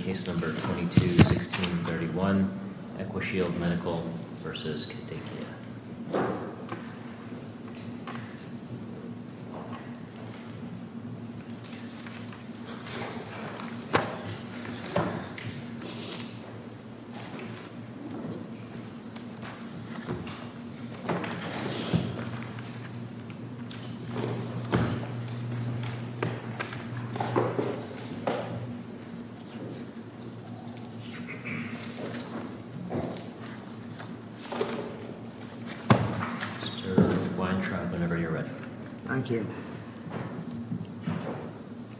22-1631 Equashield Medical v. Kadakia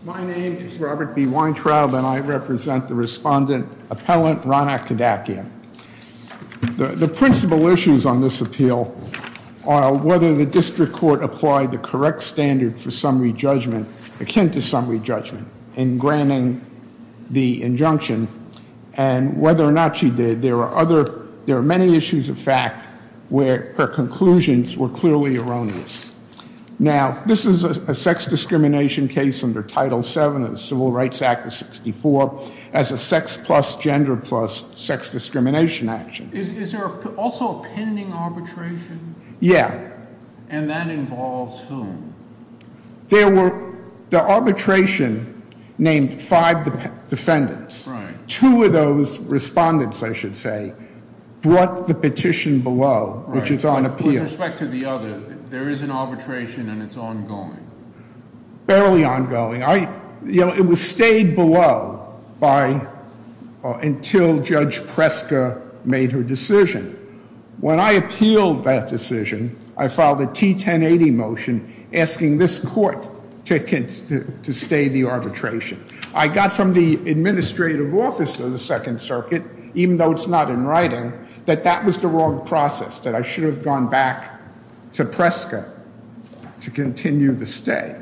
My name is Robert B. Weintraub, and I represent the Respondent-Appellant, Ronak Kadakia. The principal issues on this appeal are whether the District Court applied the correct standard for summary judgment akin to summary judgment in granting the injunction, and whether or not she did, there are many issues of fact where her conclusions were clearly erroneous. Now this is a sex discrimination case under Title VII of the Civil Rights Act of 1964 as a sex plus gender plus sex discrimination action. Is there also a pending arbitration? Yeah. And that involves whom? There were the arbitration named five defendants. Two of those respondents, I should say, brought the petition below, which is on appeal. With respect to the other, there is an arbitration, and it's ongoing. Barely ongoing. It was stayed below until Judge Preska made her decision. When I appealed that decision, I filed a T-1080 motion asking this court to stay the arbitration. I got from the Administrative Office of the Second Circuit, even though it's not in writing, that that was the wrong process, that I should have gone back to Preska to continue the stay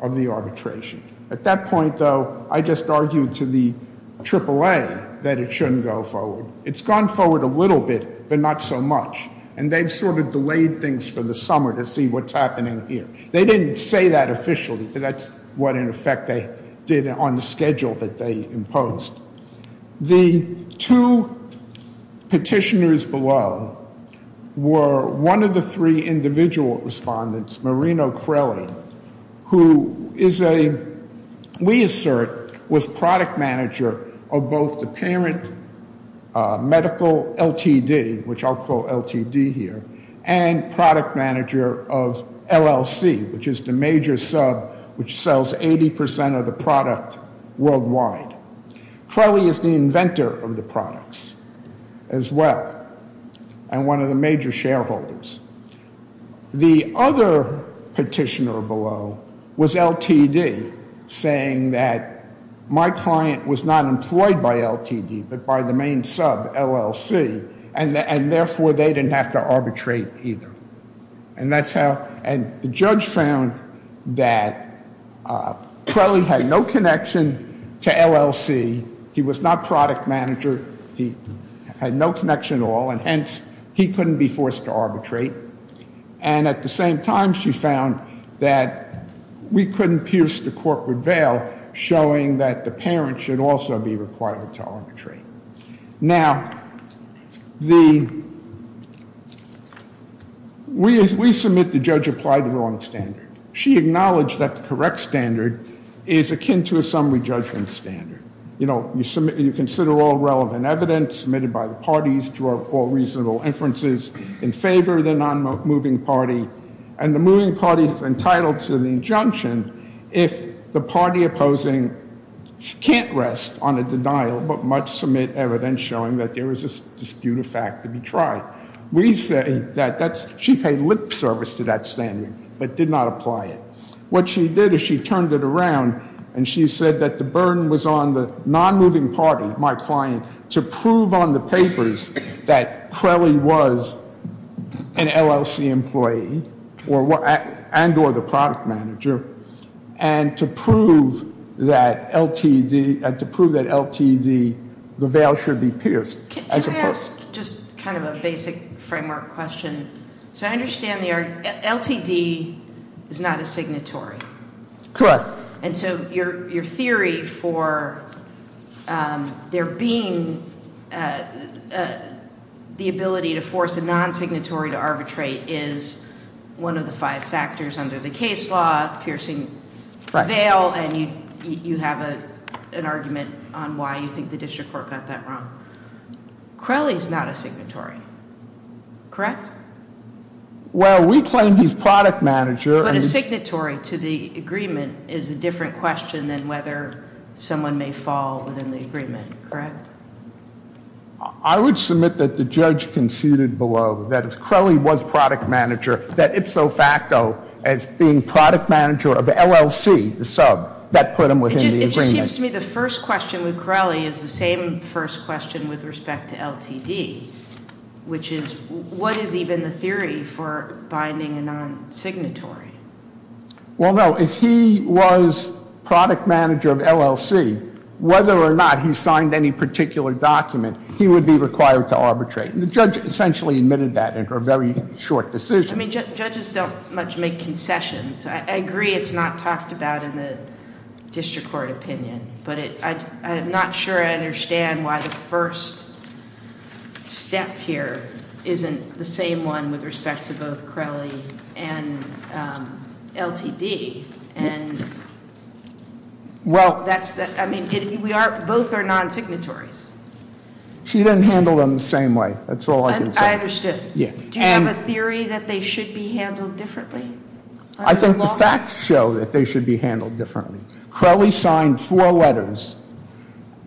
of the arbitration. At that point, though, I just argued to the AAA that it shouldn't go forward. It's gone forward a little bit, but not so much. And they've sort of delayed things for the summer to see what's happening here. They didn't say that officially, but that's what, in effect, they did on the schedule that they imposed. The two petitioners below were one of the three individual respondents, Marino Crelli, who is a, we assert, was product manager of both the parent medical LTD, which I'll call LTD here, and product manager of LLC, which is the major sub which sells 80% of the product worldwide. Crelli is the inventor of the products as well, and one of the major shareholders. The other petitioner below was LTD, saying that my client was not employed by LTD, but by the main sub, LLC, and therefore, they didn't have to arbitrate either. And that's how, and the judge found that Crelli had no connection to LLC. He was not product manager. He had no connection at all, and hence, he couldn't be forced to arbitrate. And at the same time, she found that we couldn't pierce the court with bail, showing that the parent should also be required to arbitrate. Now, the, we submit the judge applied the wrong standard. She acknowledged that the correct standard is akin to a summary judgment standard. You know, you submit, you consider all relevant evidence submitted by the parties, draw all reasonable inferences in favor of the non-moving party, and the moving party is entitled to the injunction if the party opposing can't rest on a denial, but must submit evidence showing that there is a dispute of fact to be tried. We say that that's, she paid lip service to that standard, but did not apply it. What she did is she turned it around, and she said that the burden was on the non-moving party, my client, to prove on the papers that Crelly was an LLC employee, and or the product manager, and to prove that LTD, and to prove that LTD, the bail should be pierced. Can I ask just kind of a basic framework question? So I understand the, LTD is not a signatory. Correct. And so your theory for there being the ability to force a non-signatory to arbitrate is one of the five factors under the case law, piercing bail, and you have an argument on why you think the district court got that wrong. Crelly's not a signatory. Correct? Well, we claim he's product manager. But a signatory to the agreement is a different question than whether someone may fall within the agreement, correct? I would submit that the judge conceded below that if Crelly was product manager, that it's so facto as being product manager of LLC, the sub, that put him within the agreement. It just seems to me the first question with Crelly is the same first question with respect to LTD, which is what is even the theory for binding a non-signatory? Well, no, if he was product manager of LLC, whether or not he signed any particular document, he would be required to arbitrate. And the judge essentially admitted that in a very short decision. I mean, judges don't much make concessions. I agree it's not talked about in the district court opinion, but I'm not sure I understand why the first step here isn't the same one with respect to both Crelly and LTD. And, well, that's, I mean, both are non-signatories. She didn't handle them the same way, that's all I can say. I understood. Yeah. Do you have a theory that they should be handled differently? I think the facts show that they should be handled differently. Crelly signed four letters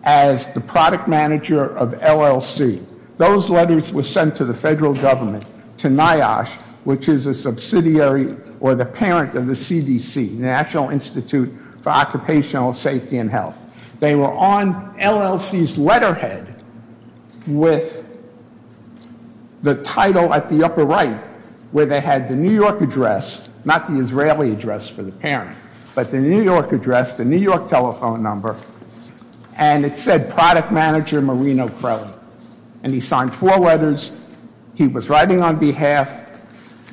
as the product manager of LLC. Those letters were sent to the federal government, to NIOSH, which is a subsidiary or the parent of the CDC, National Institute for Occupational Safety and Health. They were on LLC's letterhead with the title at the upper right, where they had the New York address, not the Israeli address for the parent, but the New York address, the New York telephone number, and it said product manager Marino Crelly. And he signed four letters. He was writing on behalf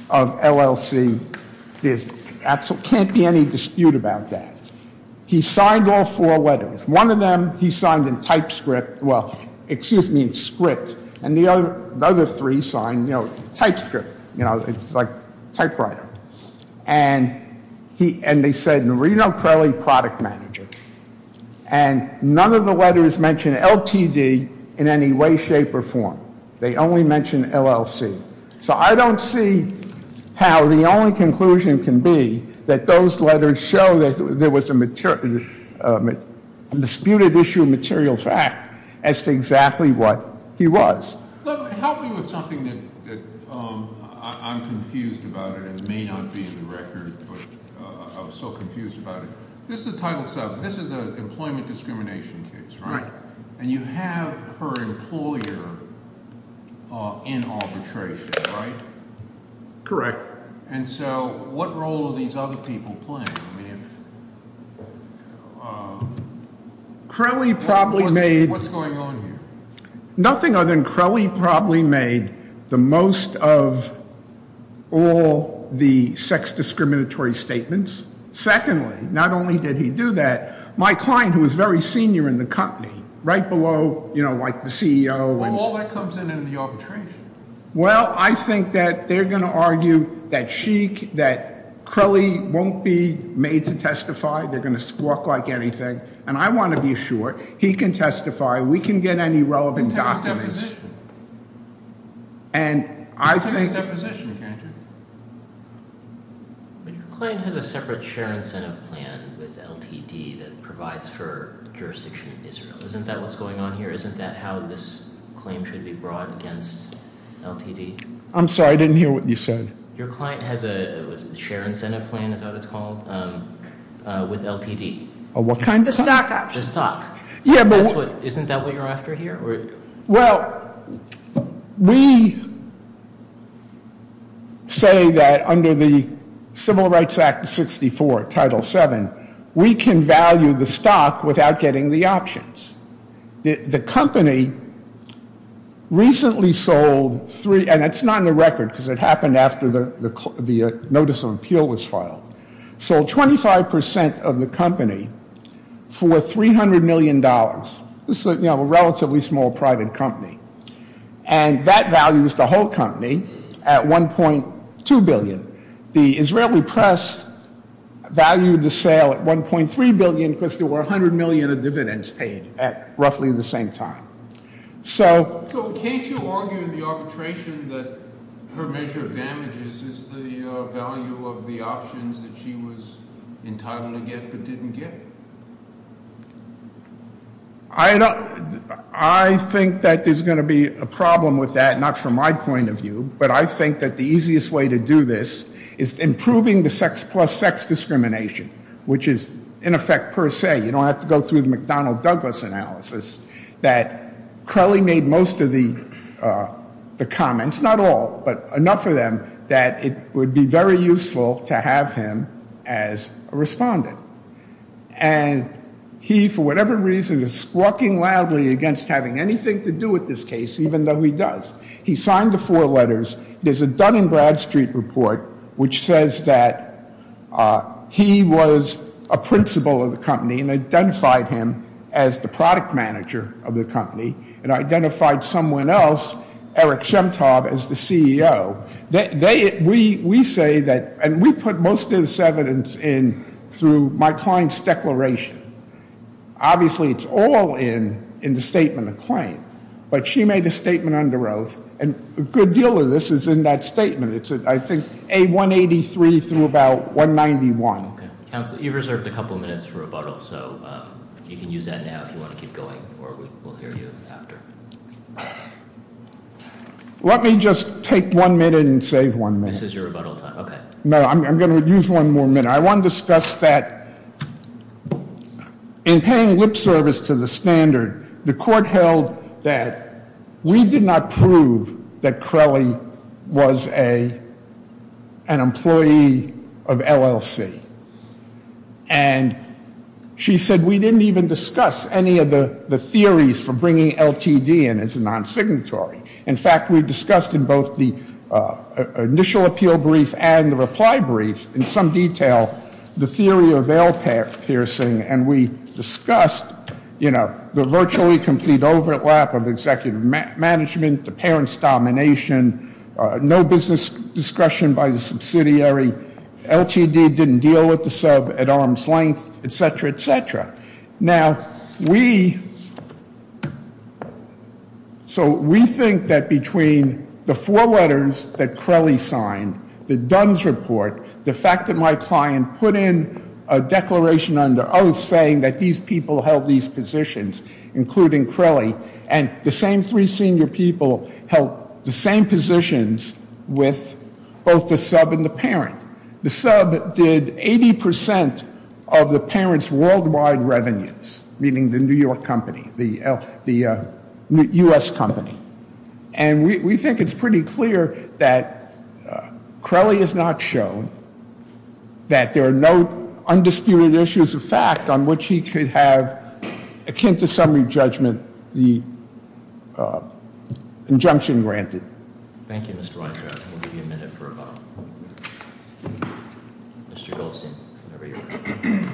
of LLC. There can't be any dispute about that. He signed all four letters. One of them he signed in TypeScript, well, excuse me, in Script. And the other three signed TypeScript, it's like typewriter. And they said Marino Crelly, product manager. And none of the letters mention LTD in any way, shape, or form. They only mention LLC. So I don't see how the only conclusion can be that those letters show that there was a disputed issue of material fact as to exactly what he was. Help me with something that I'm confused about it. It may not be in the record, but I'm so confused about it. This is Title VII. This is an employment discrimination case, right? And you have her employer in arbitration, right? Correct. And so what role are these other people playing? Crelly probably made- What's going on here? Nothing other than Crelly probably made the most of all the sex discriminatory statements. Secondly, not only did he do that, my client who was very senior in the company, right below, like the CEO. Well, all that comes in in the arbitration. Well, I think that they're going to argue that she, that Crelly won't be made to testify. They're going to squawk like anything. And I want to be sure he can testify. We can get any relevant documents. In terms of deposition. And I think- In terms of deposition, can't you? But your client has a separate share incentive plan with LTD that provides for jurisdiction in Israel. Isn't that what's going on here? Isn't that how this claim should be brought against LTD? I'm sorry, I didn't hear what you said. Your client has a share incentive plan, is that what it's called, with LTD. A what kind of- The stock option. The stock. Yeah, but- Isn't that what you're after here? Well, we say that under the Civil Rights Act of 64, Title VII, we can value the stock without getting the options. The company recently sold three, and it's not in the record because it happened after the notice of appeal was filed. Sold 25% of the company for $300 million. This is a relatively small private company. And that values the whole company at $1.2 billion. The Israeli press valued the sale at $1.3 billion because there were $100 million of dividends paid at roughly the same time. So- So can't you argue in the arbitration that her measure of damage is just the value of the options that she was entitled to get but didn't get? I think that there's going to be a problem with that, not from my point of view. But I think that the easiest way to do this is improving the sex plus sex discrimination, which is in effect per se. You don't have to go through the McDonnell-Douglas analysis, that Crowley made most of the comments. Not all, but enough of them that it would be very useful to have him as a respondent. And he, for whatever reason, is squawking loudly against having anything to do with this case, even though he does. He signed the four letters. There's a Dun and Bradstreet report which says that he was a principal of the company and identified him as the product manager of the company, and identified someone else, Eric Shemtov, as the CEO. We say that, and we put most of this evidence in through my client's declaration. Obviously, it's all in the statement of claim. But she made a statement under oath, and a good deal of this is in that statement. It's, I think, A183 through about 191. Okay, counsel, you've reserved a couple minutes for rebuttal, so you can use that now if you want to keep going, or we'll hear you after. Let me just take one minute and save one minute. This is your rebuttal time, okay. No, I'm going to use one more minute. I want to discuss that in paying lip service to the standard, the court held that we did not prove that Crelly was an employee of LLC, and she said we didn't even discuss any of the theories for bringing LTD in as a non-signatory. In fact, we discussed in both the initial appeal brief and the reply brief in some detail the theory of veil piercing, and we discussed the virtually complete overlap of executive management, the parent's domination, no business discretion by the subsidiary, LTD didn't deal with the sub at arm's length, etc., etc. Now, we, so we think that between the four letters that Crelly signed, the Dunn's report, the fact that my client put in a declaration under oath saying that these people held these positions, including Crelly, and the same three senior people held the same positions with both the sub and the parent. The sub did 80% of the parent's worldwide revenues, meaning the New York company, the US company. And we think it's pretty clear that Crelly has not shown that there are no undisputed issues of fact on which he could have, akin to summary judgment, the injunction granted. Thank you, Mr. Weintraub. We'll give you a minute for a vote. Mr. Goldstein, whenever you're ready.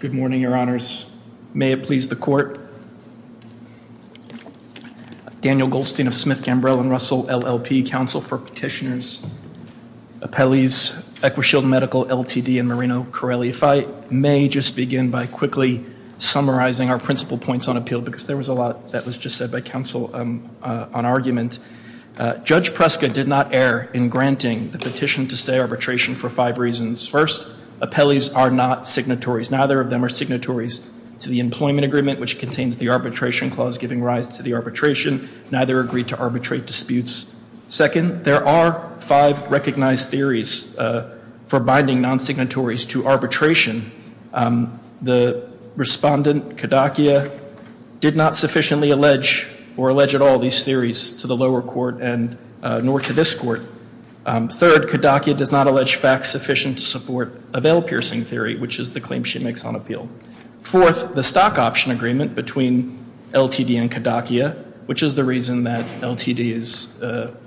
Good morning, your honors. May it please the court. Daniel Goldstein of Smith, Gambrill, and Russell, LLP, Council for Petitioners. Appellees, Equishield Medical, LTD, and Marino, Crelly. If I may just begin by quickly summarizing our principal points on appeal, because there was a lot that was just said by council on argument. Judge Preska did not err in granting the petition to stay arbitration for five reasons. First, appellees are not signatories. Neither of them are signatories to the employment agreement, which contains the arbitration clause giving rise to the arbitration. Neither agreed to arbitrate disputes. Second, there are five recognized theories for binding non-signatories to arbitration. The respondent, Kadakia, did not sufficiently allege or to lower court and nor to this court. Third, Kadakia does not allege facts sufficient to support a bail piercing theory, which is the claim she makes on appeal. Fourth, the stock option agreement between LTD and Kadakia, which is the reason that LTD is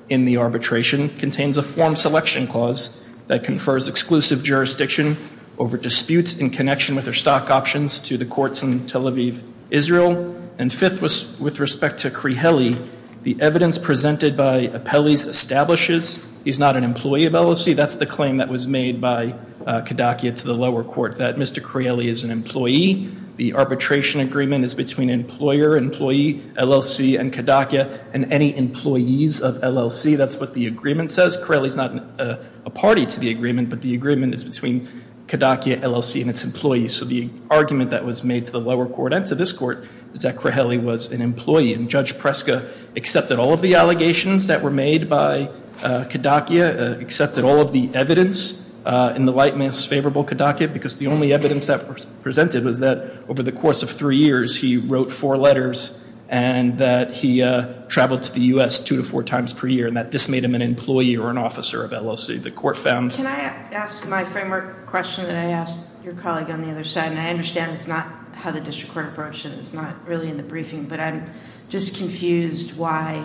in the arbitration, contains a form selection clause that confers exclusive jurisdiction over disputes in connection with their stock options to the courts in Tel Aviv, Israel. And fifth, with respect to Crieli, the evidence presented by appellees establishes he's not an employee of LLC. That's the claim that was made by Kadakia to the lower court, that Mr. Crieli is an employee. The arbitration agreement is between employer, employee, LLC, and Kadakia, and any employees of LLC. That's what the agreement says. Crieli's not a party to the agreement, but the agreement is between Kadakia, LLC, and its employees. So the argument that was made to the lower court and to this court is that Crieli was an employee. And Judge Preska accepted all of the allegations that were made by Kadakia, accepted all of the evidence in the lightness favorable Kadakia, because the only evidence that was presented was that over the course of three years he wrote four letters and that he traveled to the US two to four times per year. And that this made him an employee or an officer of LLC. The court found- Can I ask my framework question that I asked your colleague on the other side? And I understand it's not how the district court approached it, it's not really in the briefing. But I'm just confused why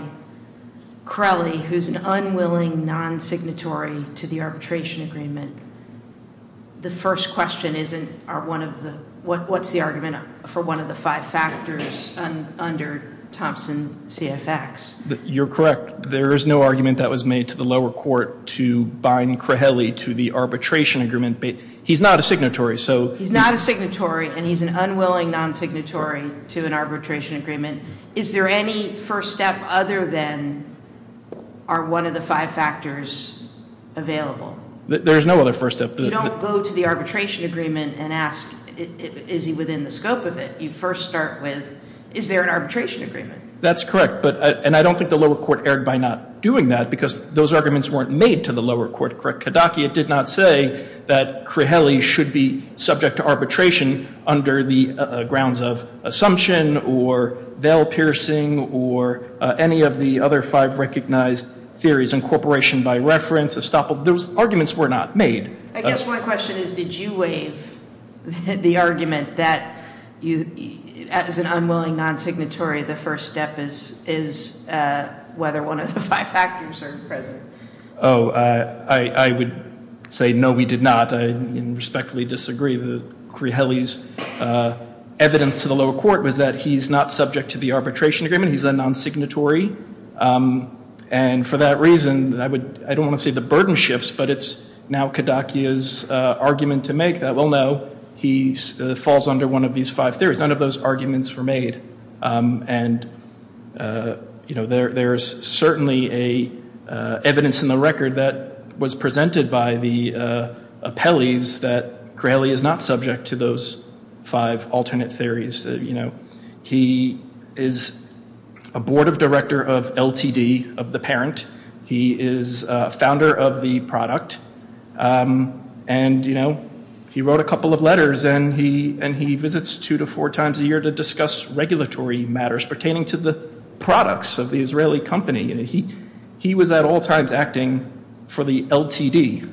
Crieli, who's an unwilling non-signatory to the arbitration agreement, the first question isn't, what's the argument for one of the five factors under Thompson CFX? You're correct, there is no argument that was made to the lower court to bind Crieli to the arbitration agreement. He's not a signatory, so- He's not a signatory and he's an unwilling non-signatory to an arbitration agreement. Is there any first step other than, are one of the five factors available? There's no other first step. You don't go to the arbitration agreement and ask, is he within the scope of it? You first start with, is there an arbitration agreement? That's correct, and I don't think the lower court erred by not doing that, because those arguments weren't made to the lower court, correct, Kodaki? It did not say that Crieli should be subject to arbitration under the grounds of assumption, or veil piercing, or any of the other five recognized theories. Incorporation by reference, estoppel, those arguments were not made. I guess my question is, did you waive the argument that as an unwilling non-signatory, the first step is whether one of the five factors are present? I would say no, we did not. I respectfully disagree with Crieli's evidence to the lower court, was that he's not subject to the arbitration agreement, he's a non-signatory. And for that reason, I don't want to say the burden shifts, but it's now Kodaki's argument to make that, well, no, he falls under one of these five theories, none of those arguments were made. And, you know, there's certainly evidence in the record that was presented by the appellees that Crieli is not subject to those five alternate theories, you know. He is a board of director of LTD, of the parent, he is founder of the product, and, you know, he wrote a couple of letters, and he visits two to four times a year to discuss regulatory matters pertaining to the products of the Israeli company, and he was at all times acting for the LTD.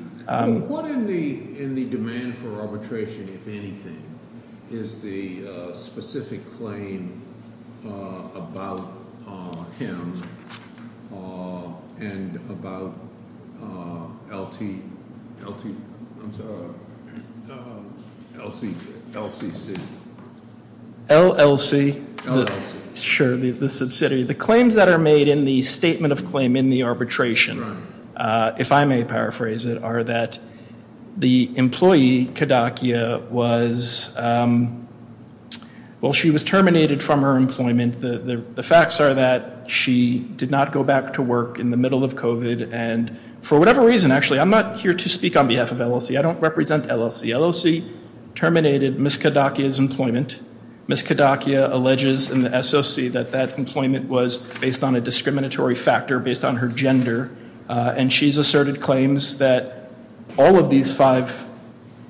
What in the demand for arbitration, if anything, is the specific claim about him and about LT, LT, I'm sorry, LCC, L-C-C. L-L-C. L-L-C. Sure, the subsidy, the claims that are made in the statement of claim in the arbitration, if I may paraphrase it, are that the employee, Kodakia, was, well, she was terminated from her employment. The facts are that she did not go back to work in the middle of COVID, and for whatever reason, actually, I'm not here to speak on behalf of LLC, I don't represent LLC. Ms. Kodakia alleges in the SOC that that employment was based on a discriminatory factor, based on her gender, and she's asserted claims that all of these five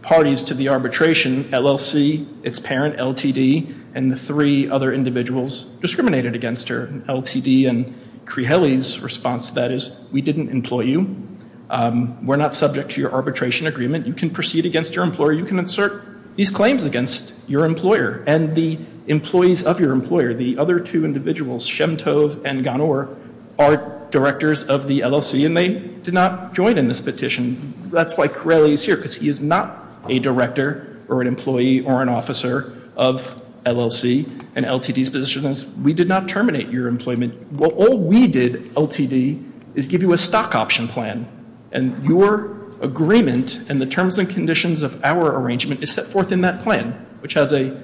parties to the arbitration, LLC, its parent, LTD, and the three other individuals discriminated against her, LTD, and Crihelli's response to that is, we didn't employ you. We're not subject to your arbitration agreement. You can proceed against your employer. You can assert these claims against your employer, and the employees of your employer, the other two individuals, Shemtov and Ganor, are directors of the LLC, and they did not join in this petition. That's why Crihelli is here, because he is not a director, or an employee, or an officer of LLC, and LTD's position is, we did not terminate your employment. Well, all we did, LTD, is give you a stock option plan, and your agreement, and the terms and conditions of our arrangement, is set forth in that plan, which has a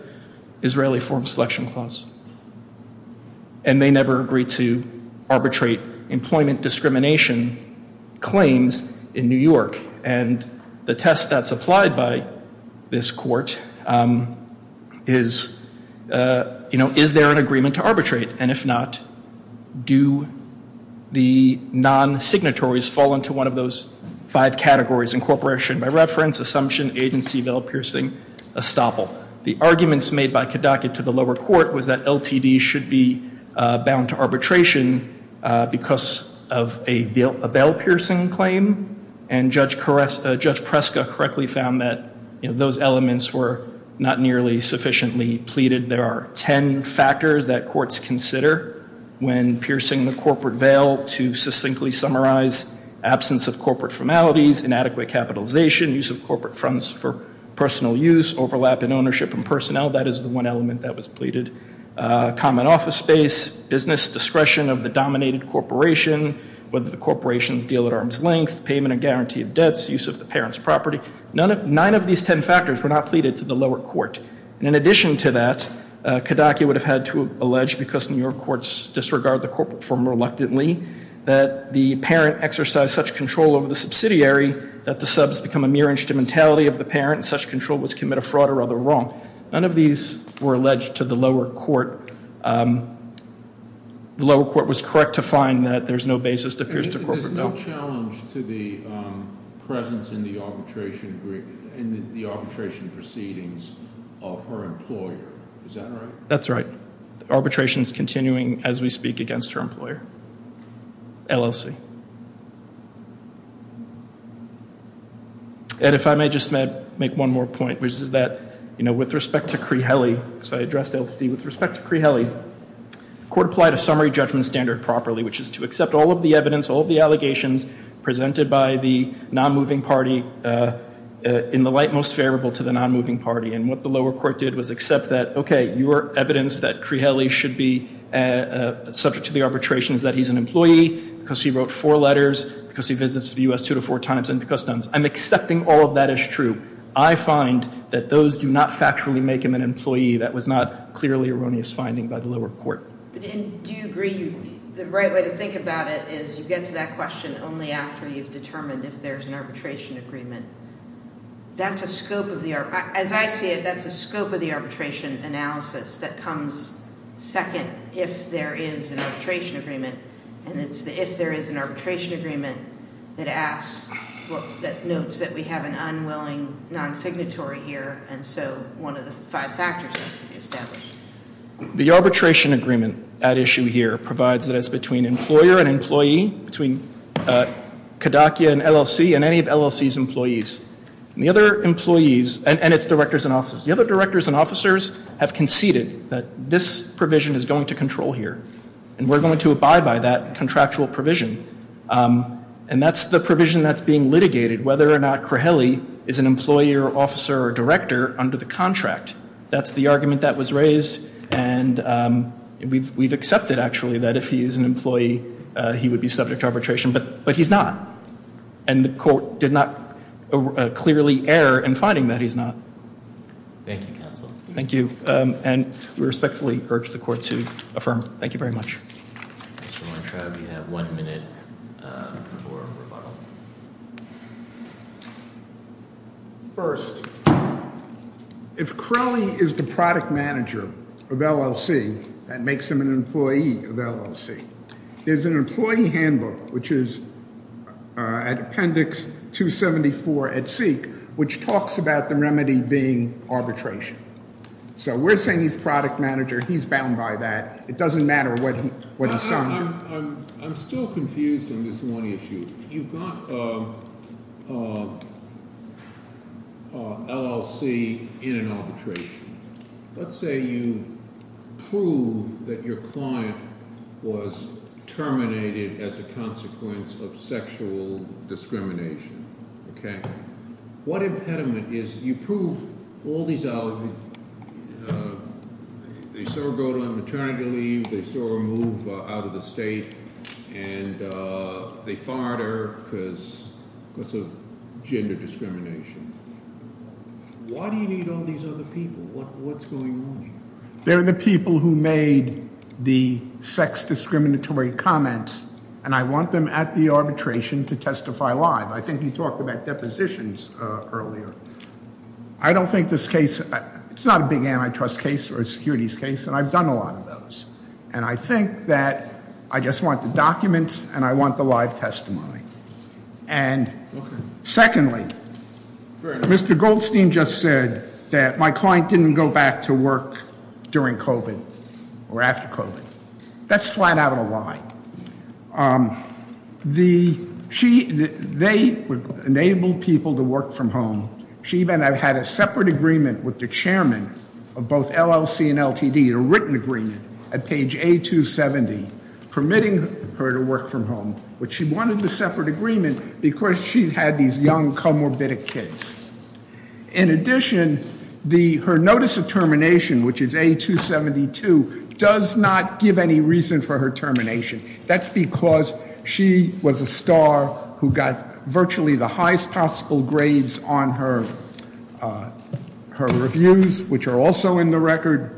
Israeli form selection clause, and they never agreed to arbitrate employment discrimination claims in New York, and the test that's applied by this court is, you know, is there an agreement to arbitrate, and if not, do the non-signatories fall into one of those five categories, incorporation by reference, assumption, agency, veil-piercing, estoppel. The arguments made by Kedokia to the lower court was that LTD should be bound to arbitration because of a veil-piercing claim, and Judge Preska correctly found that, you know, those elements were not nearly sufficiently pleaded. There are ten factors that courts consider when piercing the corporate veil to succinctly summarize absence of corporate formalities, inadequate capitalization, use of corporate funds for personal use, overlap in ownership and personnel, that is the one element that was pleaded, common office space, business discretion of the dominated corporation, whether the corporations deal at arm's length, payment and guarantee of debts, use of the parent's property. None of, nine of these ten factors were not pleaded to the lower court, and in addition to that, Kedokia would have had to allege, because New York courts disregard the corporate form reluctantly, that the parent exercised such control over the subsidiary that the subs become a mere instrumentality of the parent, and such control was committed a fraud or other wrong. None of these were alleged to the lower court. The lower court was correct to find that there's no basis to pierce the corporate veil. There's no challenge to the presence in the arbitration proceedings of her employer, is that right? That's right. Arbitration's continuing as we speak against her employer, LLC. And if I may just make one more point, which is that with respect to Cree-Helly, so I addressed LSD. With respect to Cree-Helly, the court applied a summary judgment standard properly, which is to accept all of the evidence, all of the allegations presented by the non-moving party in the light most favorable to the non-moving party. And what the lower court did was accept that, okay, your evidence that Cree-Helly should be subject to the arbitration is that he's an employee, because he wrote four letters, because he visits the U.S. two to four times, and because none. I'm accepting all of that as true. I find that those do not factually make him an employee. That was not clearly erroneous finding by the lower court. But do you agree, the right way to think about it is you get to that question only after you've determined if there's an arbitration agreement. That's a scope of the, as I see it, that's a scope of the arbitration analysis that comes second if there is an arbitration agreement. And it's the if there is an arbitration agreement that asks, that notes that we have an unwilling non-signatory here. And so one of the five factors has to be established. The arbitration agreement at issue here provides that it's between employer and employee, between Kodakia and LLC, and any of LLC's employees. And the other employees, and it's directors and officers. The other directors and officers have conceded that this provision is going to control here. And we're going to abide by that contractual provision. And that's the provision that's being litigated, whether or not Craheli is an employer, officer, or director under the contract. That's the argument that was raised, and we've accepted actually that if he is an employee, he would be subject to arbitration. But he's not. And the court did not clearly err in finding that he's not. Thank you, counsel. Thank you, and we respectfully urge the court to affirm. Thank you very much. Mr. Weintraub, you have one minute for rebuttal. First, if Craheli is the product manager of LLC, that makes him an employee of LLC. There's an employee handbook, which is at appendix 274 at SEEK, which talks about the remedy being arbitration. So we're saying he's product manager, he's bound by that. It doesn't matter what he's selling. I'm still confused on this one issue. You've got a LLC in an arbitration. Let's say you prove that your client was terminated as a consequence of sexual discrimination, okay? What impediment is you prove all these other, they still go to a maternity leave, they still move out of the state. And they farther because of gender discrimination. Why do you need all these other people? What's going on here? They're the people who made the sex discriminatory comments, and I want them at the arbitration to testify live. I think you talked about depositions earlier. I don't think this case, it's not a big antitrust case or a securities case, and I've done a lot of those. And I think that I just want the documents, and I want the live testimony. And secondly, Mr. Goldstein just said that my client didn't go back to work during COVID or after COVID. That's flat out a lie. They enabled people to work from home. She even had a separate agreement with the chairman of both LLC and LTD, a written agreement at page A270, permitting her to work from home. But she wanted the separate agreement because she'd had these young comorbid kids. In addition, her notice of termination, which is A272, does not give any reason for her termination. That's because she was a star who got virtually the highest possible grades on her reviews, which are also in the record.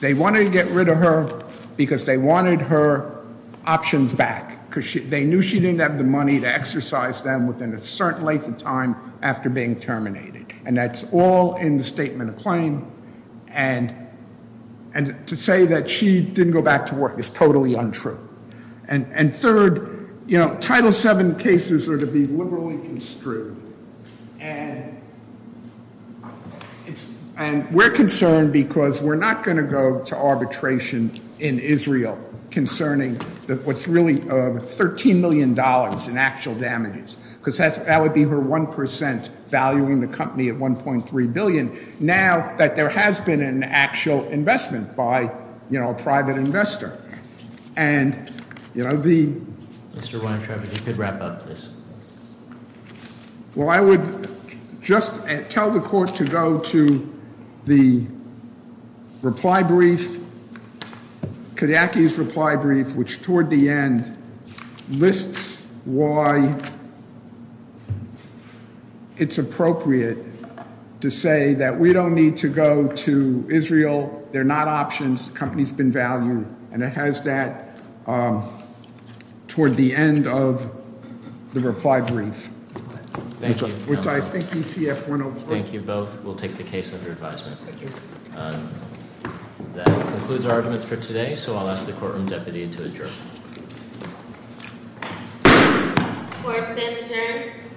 They wanted to get rid of her because they wanted her options back. Because they knew she didn't have the money to exercise them within a certain length of time after being terminated. And that's all in the statement of claim. And to say that she didn't go back to work is totally untrue. And third, Title VII cases are to be liberally construed. And we're concerned because we're not going to go to arbitration in Israel concerning what's really $13 million in actual damages. because that would be her 1% valuing the company at $1.3 billion, now that there has been an actual investment by a private investor. And the- Mr. Weintraub, if you could wrap up, please. Well, I would just tell the court to go to the reply brief. Kodiaky's reply brief, which toward the end lists why it's appropriate to say that we don't need to go to Israel. They're not options. The company's been valued. And it has that toward the end of the reply brief. Which I think ECF 104- Thank you both. We'll take the case under advisement. Thank you. That concludes our arguments for today. So I'll ask the courtroom deputy to adjourn. Court is adjourned.